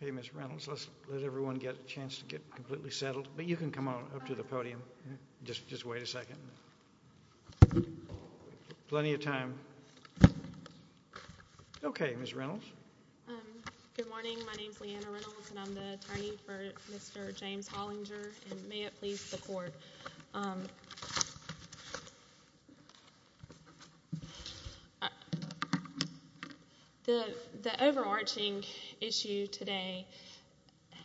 Okay, Ms. Reynolds, let's let everyone get a chance to get completely settled, but you can come on up to the podium. Just wait a second. Plenty of time. Okay, Ms. Reynolds. Good morning. My name is Leanna Reynolds, and I'm the attorney for Mr. James Hollinger, and may it please the court. The overarching issue today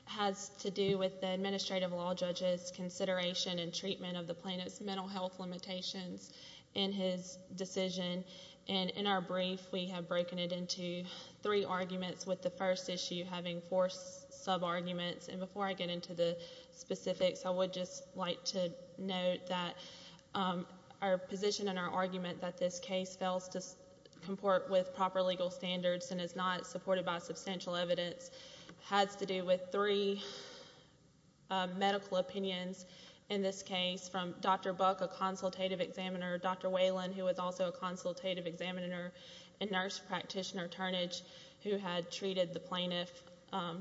has to do with the administrative law judge's consideration and treatment of the plaintiff's mental health limitations in his decision, and in our brief, we have broken it into three arguments, with the first issue having four sub-arguments. And before I get into the specifics, I would just like to note that our position and our argument that this case fails to comport with proper legal standards and is not supported by substantial evidence has to do with three medical opinions in this case, from Dr. Buck, a consultative examiner, Dr. Whalen, who was also a consultative examiner, and nurse practitioner Turnage, who had treated the plaintiff, I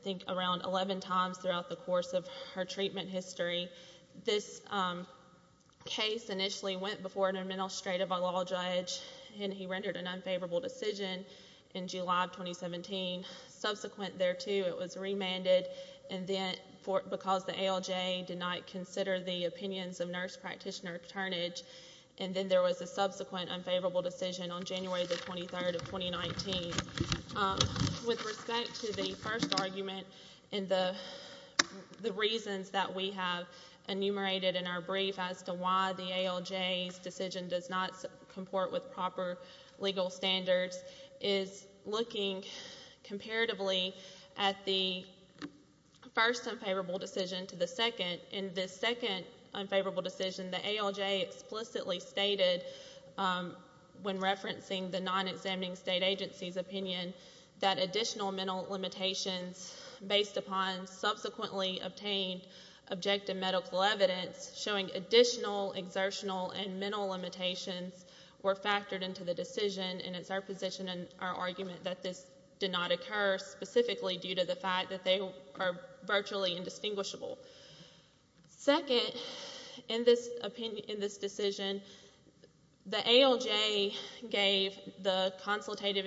think, around 11 times throughout the course of her treatment history. This case initially went before an administrative law judge, and he rendered an unfavorable decision in July of 2017. Subsequent thereto, it was remanded, and then because the ALJ did not consider the opinions of nurse practitioner Turnage, and then there was a subsequent unfavorable decision on January the 23rd of 2019. With respect to the first argument, and the reasons that we have enumerated in our brief as to why the ALJ's decision does not comport with proper legal standards, is looking comparatively at the first unfavorable decision to the second. In this second unfavorable decision, the ALJ explicitly stated, when referencing the non-examining state agency's opinion, that additional mental limitations based upon subsequently obtained objective medical evidence showing additional exertional and mental limitations were factored into the decision, and it's our position and our argument that this did not occur specifically due to the fact that they are virtually indistinguishable. Second, in this decision, the ALJ gave the consultative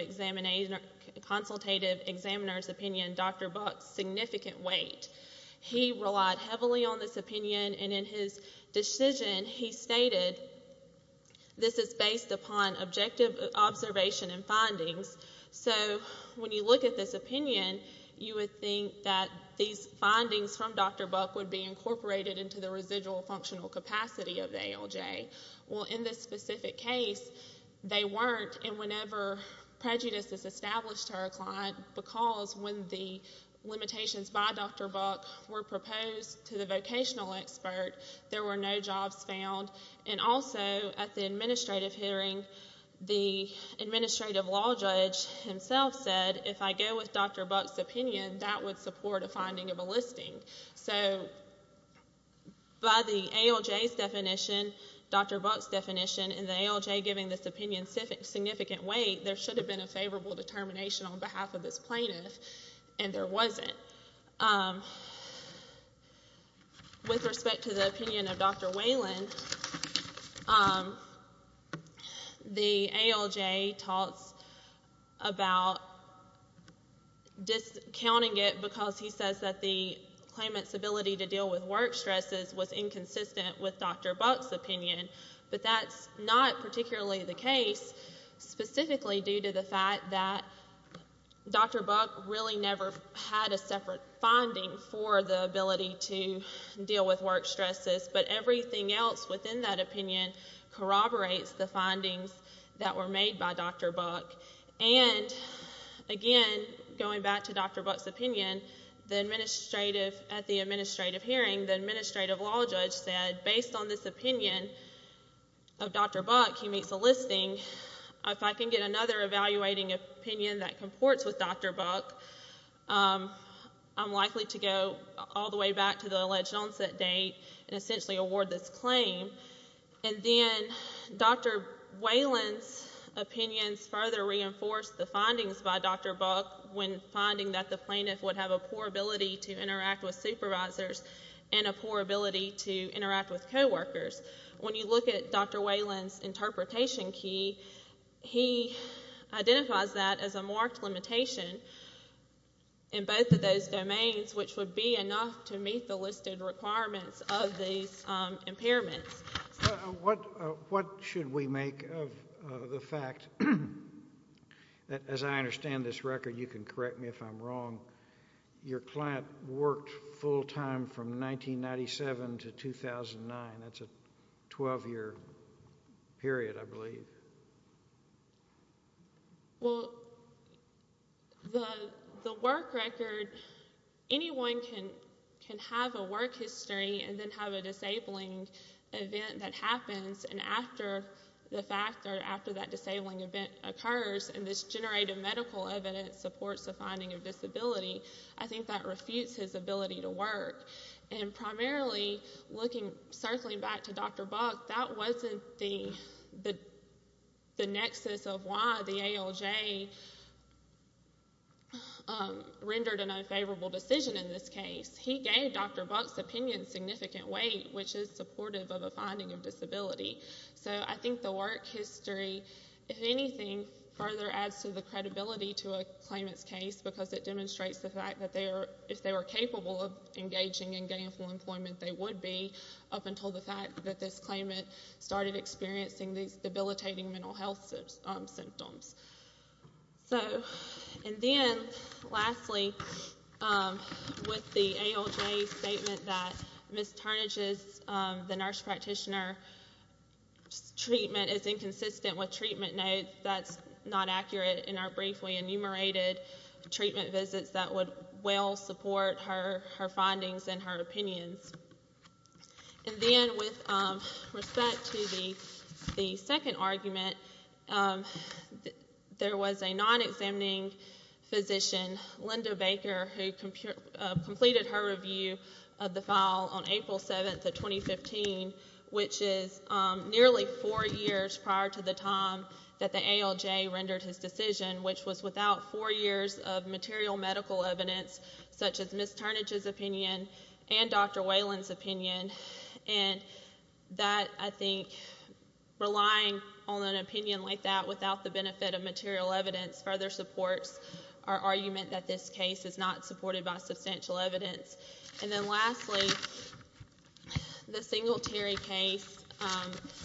examiner's opinion Dr. Buck's significant weight. He relied heavily on this opinion, and in his decision, he stated, this is based upon objective observation and findings, so when you look at this opinion, you would think that these findings from Dr. Buck would be incorporated into the residual functional capacity of the ALJ. Well, in this specific case, they weren't, and whenever prejudice is established to our client, because when the limitations by Dr. Buck were proposed to the vocational expert, there were no jobs found, and also, at the administrative hearing, the administrative law judge himself said, if I go with Dr. Buck's opinion, that would support a finding of a listing, so by the ALJ's definition, Dr. Buck's definition, and the ALJ giving this opinion significant weight, there should have been a favorable determination on behalf of this plaintiff, and there wasn't. With respect to the opinion of Dr. Whalen, the ALJ talks about discounting it because he says that the claimant's ability to deal with work stresses was inconsistent with Dr. Buck's opinion, but that's not particularly the case, specifically due to the fact that Dr. Buck really never had a separate finding for the ability to deal with work stresses, but everything else within that opinion corroborates the findings that were made by Dr. Buck, and again, going back to Dr. Buck's opinion, at the administrative hearing, the administrative law judge said, based on this opinion of Dr. Buck, he makes a listing. If I can get another evaluating opinion that comports with Dr. Buck, I'm likely to go all the way back to the alleged onset date and essentially award this claim, and then Dr. Whalen's opinions further reinforce the findings by Dr. Buck when finding that the plaintiff would have a poor ability to interact with supervisors and a poor ability to interact with coworkers. When you look at Dr. Whalen's interpretation key, he identifies that as a marked limitation in both of those domains, which would be enough to meet the listed requirements of these impairments. What should we make of the fact that, as I understand this record, you can correct me if I'm wrong, your client worked full-time from 1997 to 2009. That's a 12-year period, I believe. Well, the work record, anyone can have a work history and then have a disabling event that happens, and after the fact, or after that disabling event occurs, and this generated medical evidence supports the finding of disability, I think that refutes his ability to work. Primarily, circling back to Dr. Buck, that wasn't the nexus of why the ALJ rendered an unfavorable decision in this case. He gave Dr. Buck's opinion significant weight, which is supportive of a finding of disability. I think the work history, if anything, further adds to the credibility to a claimant's case, because it demonstrates the fact that if they were capable of engaging in gainful employment, they would be, up until the fact that this claimant started experiencing these debilitating mental health symptoms. And then, lastly, with the ALJ statement that Ms. Turnage's, the nurse practitioner's, treatment is inconsistent with treatment notes, that's not accurate in our briefly enumerated treatment visits that would well support her findings and her opinions. And then, with respect to the second argument, there was a non-examining physician, Linda Baker, who completed her review of the file on April 7th of 2015, which is nearly four years prior to the time that the ALJ rendered his decision, which was without four years of material medical evidence, such as Ms. Turnage's opinion and Dr. Whalen's opinion. And that, I think, relying on an opinion like that without the benefit of material evidence further supports our findings. And then, lastly, the single-tier case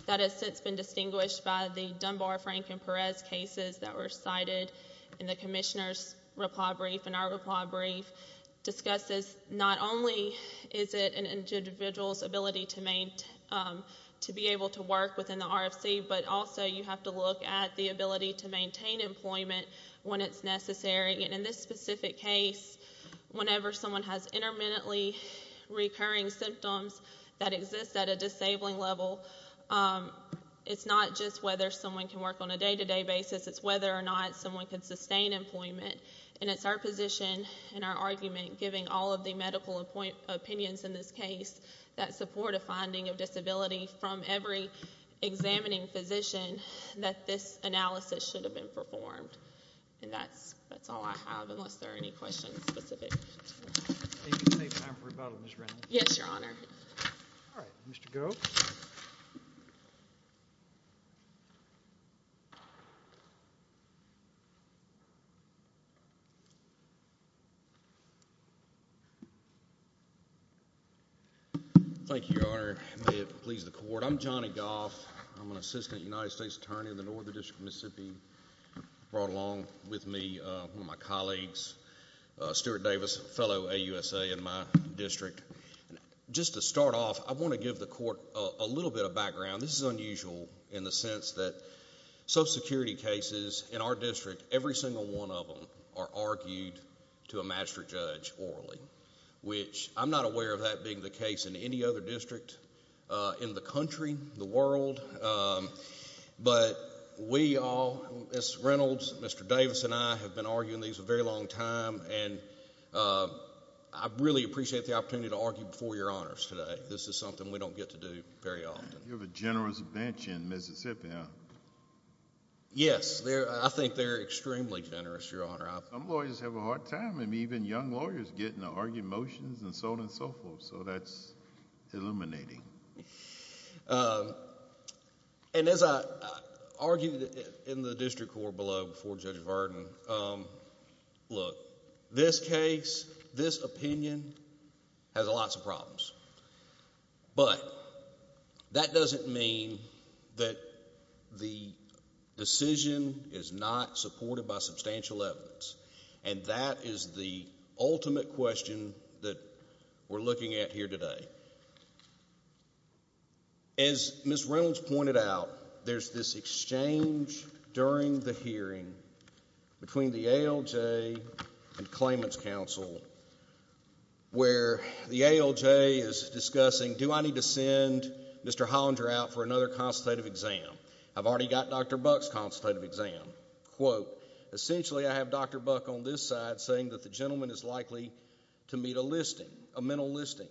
that has since been distinguished by the Dunbar-Frank and Perez cases that were cited in the Commissioner's reply brief and our reply brief discusses not only is it an individual's ability to be able to work within the RFC, but also you have to look at the ability to maintain employment when it's necessary. And in this specific case, whenever someone has intermittently recurring symptoms that exist at a disabling level, it's not just whether someone can work on a day-to-day basis, it's whether or not someone can sustain employment. And it's our position and our argument, given all of the medical opinions in this case, that support a finding of disability from every examining physician that this analysis should have been performed. And that's all I have, unless there are any questions specific to this. If you can take time for rebuttal, Ms. Reynolds. Yes, Your Honor. All right. Mr. Goh. Thank you, Your Honor. May it please the Court. I'm Johnny Goff. I'm an assistant United States attorney in the Northern District of Mississippi. I brought along with me one of my colleagues, Stuart Davis, a fellow AUSA in my district. Just to start off, I want to give the Court a little bit of background. This is unusual in the sense that Social Security cases in our district, every single one of them are argued to a master judge orally, which I'm not aware of that being the case in any other district in the country, the world. But we all, Ms. Reynolds, Mr. Davis, and I have been arguing these a very long time, and I really appreciate the opportunity to argue before Your Honors today. This is something we don't get to do very often. You have a generous bench in Mississippi, huh? Yes. I think they're extremely generous, Your Honor. Some lawyers have a hard time, and even young lawyers, getting to argue motions and so on and so forth. So that's illuminating. And as I argued in the district court below before Judge Varden, look, this case, this opinion has lots of problems. But that doesn't mean that the decision is not supported by As Ms. Reynolds pointed out, there's this exchange during the hearing between the ALJ and Claimant's Counsel, where the ALJ is discussing, do I need to send Mr. Hollinger out for another consultative exam? I've already got Dr. Buck's consultative exam. Quote, essentially I have Dr. Buck on this side saying that the gentleman is likely to meet a listing, a mental listing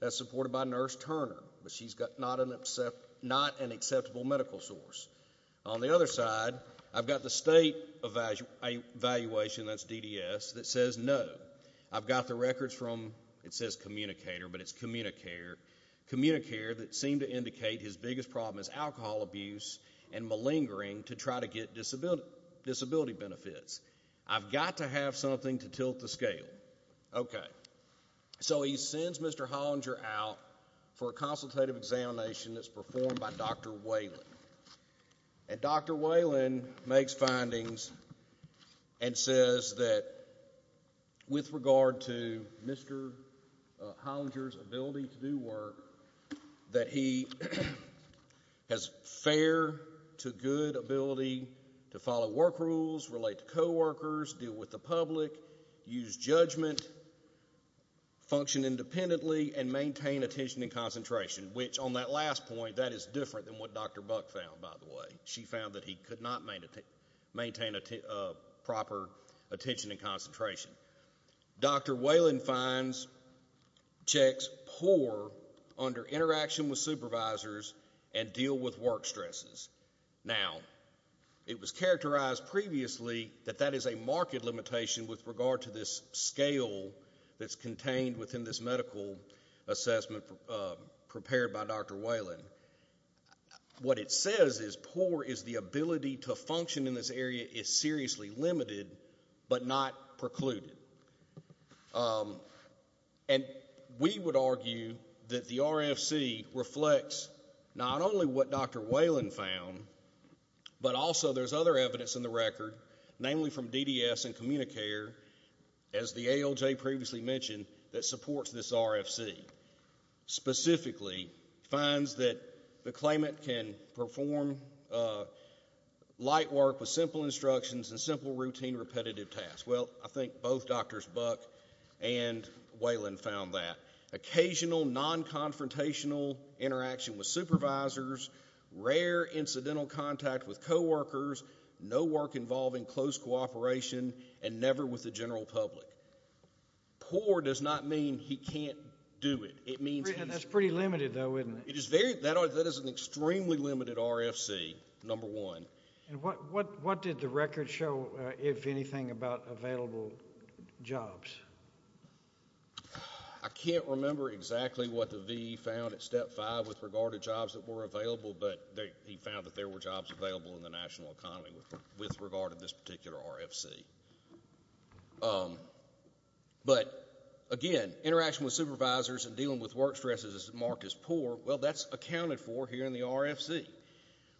that's supported by Nurse Turner, but she's got not an acceptable medical source. On the other side, I've got the state evaluation, that's DDS, that says no. I've got the records from, it says Communicator, but it's Communicare that seem to indicate his biggest problem is alcohol abuse and malingering to try to get disability benefits. I've got to have something to tilt the scale. Okay. So he sends Mr. Hollinger out for a consultative examination that's performed by Dr. Whalen. And Dr. Whalen makes findings and says that with regard to Mr. Hollinger's ability to do work, that he has fair to good ability to follow work rules, relate to co-workers, deal with the public, use judgment, function independently and maintain attention and concentration, which on that last point, that is different than what Dr. Buck found, by the way. She found that he could not maintain a proper attention and concentration. Dr. Whalen finds checks poor under interaction with supervisors and deal with work stresses. Now, it was characterized previously that that is a market limitation with regard to this scale that's contained within this medical assessment prepared by Dr. Whalen. What it says is poor is the ability to function in this area is seriously limited, but not precluded. And we would argue that the RFC reflects not only what Dr. Whalen found, but also there's other evidence in the record, namely from DDS and Communicare, as the ALJ previously mentioned, that supports this RFC. Specifically, finds that the claimant can perform light work with simple instructions and simple routine repetitive tasks. Well, I think both Drs. Buck and Whalen found that. Occasional non-confrontational interaction with supervisors, rare incidental contact with co-workers, no work involving close cooperation and never with the general public. Poor does not mean he can't do it. It means That's pretty limited though, isn't it? That is an extremely limited RFC, number one. And what did the record show, if anything, about available jobs? I can't remember exactly what the VE found at step five with regard to jobs that were available, but he found that there were jobs available in the national economy with regard to this particular RFC. But, again, interaction with supervisors and dealing with work stresses is marked as poor. Well, that's accounted for here in the RFC,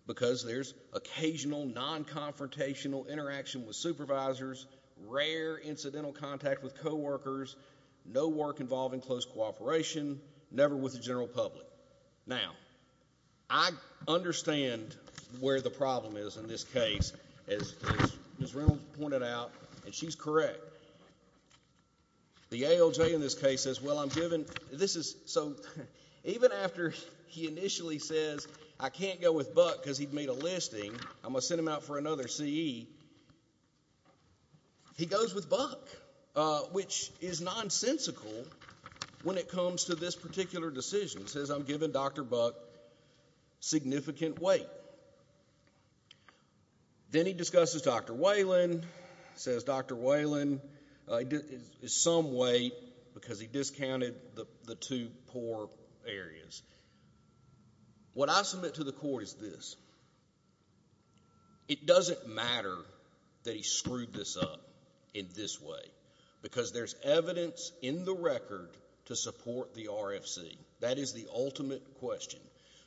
because there's occasional non-confrontational interaction with supervisors, rare incidental contact with co-workers, no work involving close cooperation, never with the general public. Now, I understand where the problem is in this case, as Ms. Reynolds pointed out, and she's correct. The ALJ in this case says, well, I'm given, this is, so, even after he initially says, I can't go with Buck because he'd made a listing, I'm going to send him out for another CE, he goes with Buck, which is nonsensical when it comes to this particular decision. He says, I'm giving Dr. Buck significant weight. Then he discusses Dr. Whalen, says Dr. Whalen is some weight because he discounted the two poor areas. What I submit to the court is this. It doesn't matter that he screwed this up in this way, because there's evidence in the record to support the RFC. That is the ultimate question.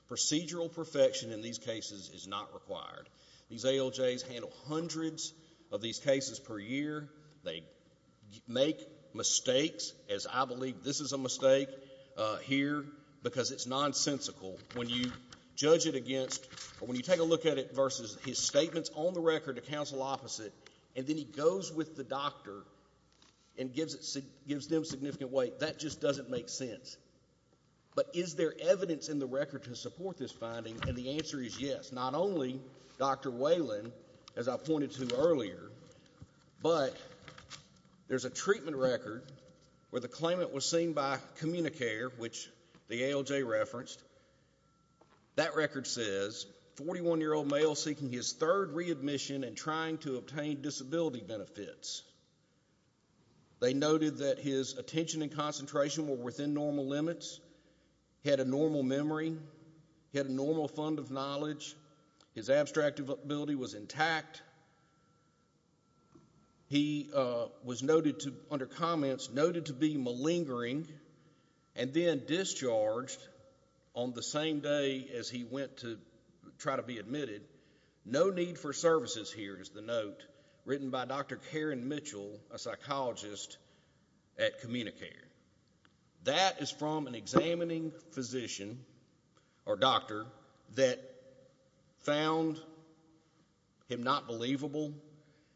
Procedural perfection in these cases is not required. These ALJs handle hundreds of these cases per year. They make mistakes, as I believe this is a mistake here, because it's nonsensical. When you judge it against, or when you take a look at it versus his statements on the record to counsel opposite, and then he goes with the doctor and gives them significant weight, that just doesn't make sense. But is there evidence in the record to support this finding? And the answer is yes. Not only Dr. Whalen, as I pointed to earlier, but there's a treatment record where the claimant was seen by Communicare, which the ALJ referenced. That record says, 41-year-old male seeking his third readmission and trying to obtain disability benefits. They noted that his attention and concentration were within normal limits. He had a normal memory. He had a normal fund of knowledge. His abstract ability was intact. He was noted to, under comments, noted to be malingering, and then discharged on the same day as he went to try to be admitted. No need for services here is the note written by Dr. Karen Mitchell, a psychologist at Communicare. That is from an examining physician, or doctor, that found him not believable,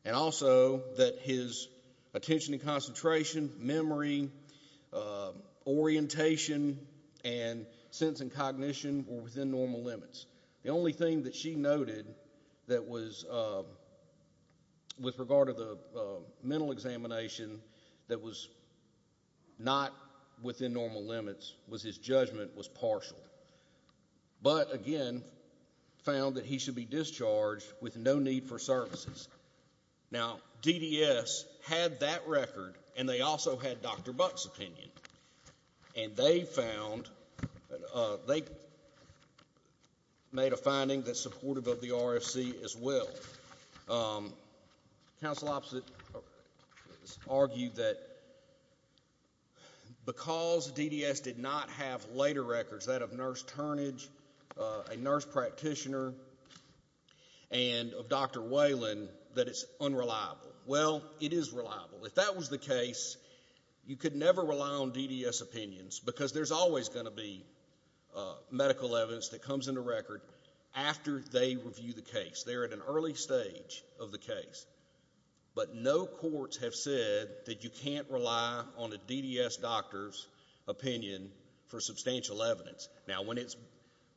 and also that his attention and concentration, memory, orientation, and sense and cognition were within normal limits. The only thing that she noted that was, with regard to the mental examination, that was not within normal limits was his judgment was partial. But again, found that he should be discharged with no need for services. Now, DDS had that record, and they also had Dr. Whalen. They made a finding that's supportive of the RFC as well. Council opposite argued that because DDS did not have later records, that of Nurse Turnage, a nurse practitioner, and of Dr. Whalen, that it's unreliable. Well, it is reliable. If that was the case, you could never rely on DDS opinions, because there's always going to be medical evidence that comes into record after they review the case. They're at an early stage of the case. But no courts have said that you can't rely on a DDS doctor's opinion for substantial evidence. Now, when it's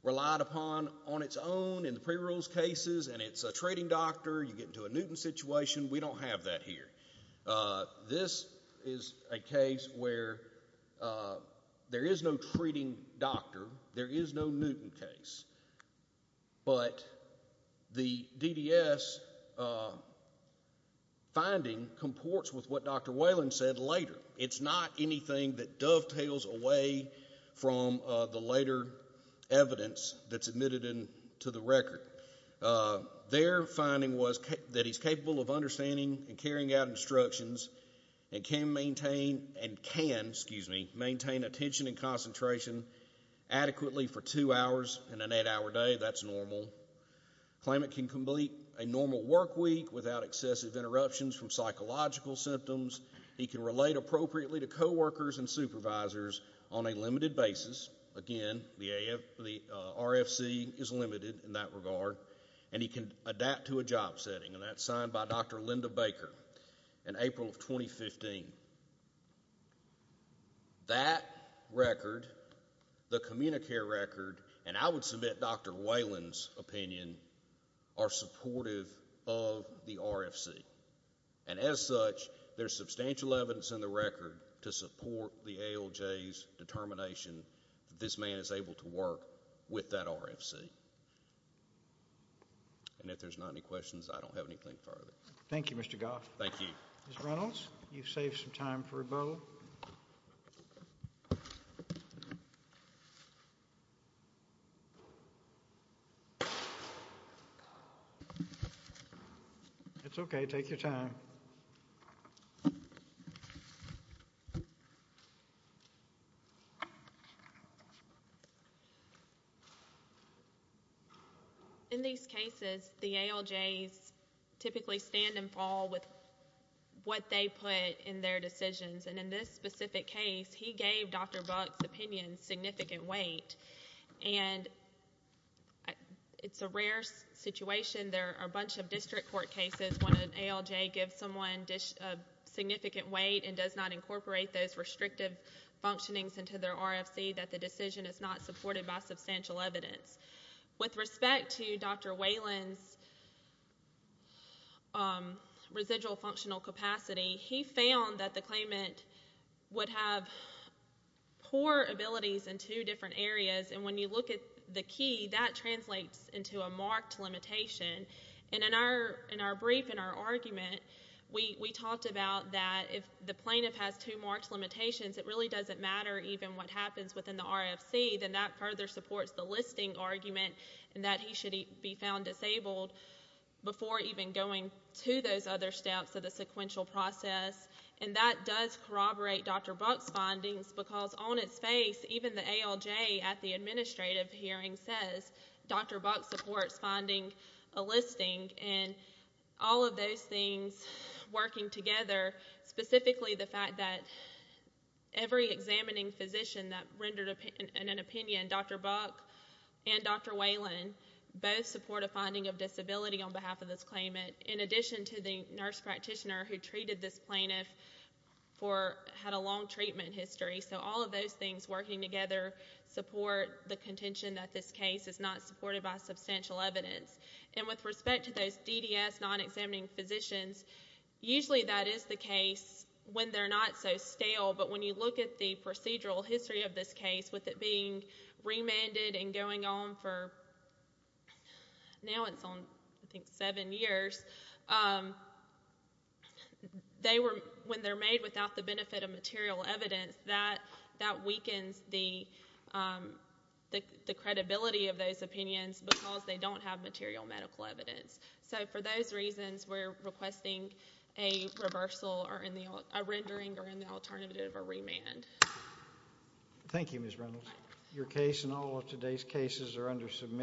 relied upon on its own in the pre-rules cases, and it's a trading doctor, you get into a Newton situation, we don't have that here. This is a case where there is no treating doctor, there is no Newton case. But the DDS finding comports with what Dr. Whalen said later. It's not anything that dovetails away from the later evidence that's in the case. The current finding was that he's capable of understanding and carrying out instructions, and can maintain attention and concentration adequately for two hours and an eight-hour day. That's normal. Claimant can complete a normal work week without excessive interruptions from psychological symptoms. He can relate appropriately to coworkers and supervisors on a limited basis. Again, the RFC is limited in that regard. And he can adapt to a job setting, and that's signed by Dr. Linda Baker in April of 2015. That record, the CommuniCare record, and I would submit Dr. Whalen's opinion, are supportive of the RFC. And as such, there's substantial evidence in the record to support the ALJ's RFC. And if there's not any questions, I don't have anything further. Thank you, Mr. Goff. Thank you. Mr. Reynolds, you've saved some time for a bow. It's okay, take your time. In these cases, the ALJs typically stand and fall with what they put in their decisions. And in this specific case, he gave Dr. Buck's opinion significant weight. And it's a rare situation. There are a bunch of district court cases when an ALJ gives someone significant weight and does not incorporate those restrictive functionings into their RFC that the decision is not supported by substantial evidence. With respect to Dr. Whalen's residual functional capacity, he found that the claimant would have poor abilities in two different areas. And when you look at the key, that translates into a marked limitation. And in our brief, in our argument, we talked about that if the plaintiff has two marked limitations, it really doesn't matter even what happens within the RFC, then that further supports the listing argument and that he should be found disabled before even going to those other steps of the sequential process. And that does corroborate Dr. Buck's findings because on its face, even the ALJ at the administrative hearing says Dr. Buck supports finding a listing. And all of those things working together, specifically the fact that every examining physician that rendered an opinion, Dr. Buck and Dr. Whalen, both support a finding of disability on behalf of this claimant, in addition to the nurse practitioner who treated this plaintiff had a long treatment history. So all of those things working together support the contention that this case is not supported by substantial evidence. And with respect to those DDS non-examining physicians, usually that is the case when they're not so stale, but when you look at the procedural history of this case with it being remanded and going on for, now it's on I think seven years, they were, when they're made without the benefit of material evidence, that weakens the credibility of those opinions because they don't have material medical evidence. So for those reasons, we're requesting a reversal or a rendering or an alternative or remand. Thank you Ms. Reynolds. Your case and all of today's cases are under submission.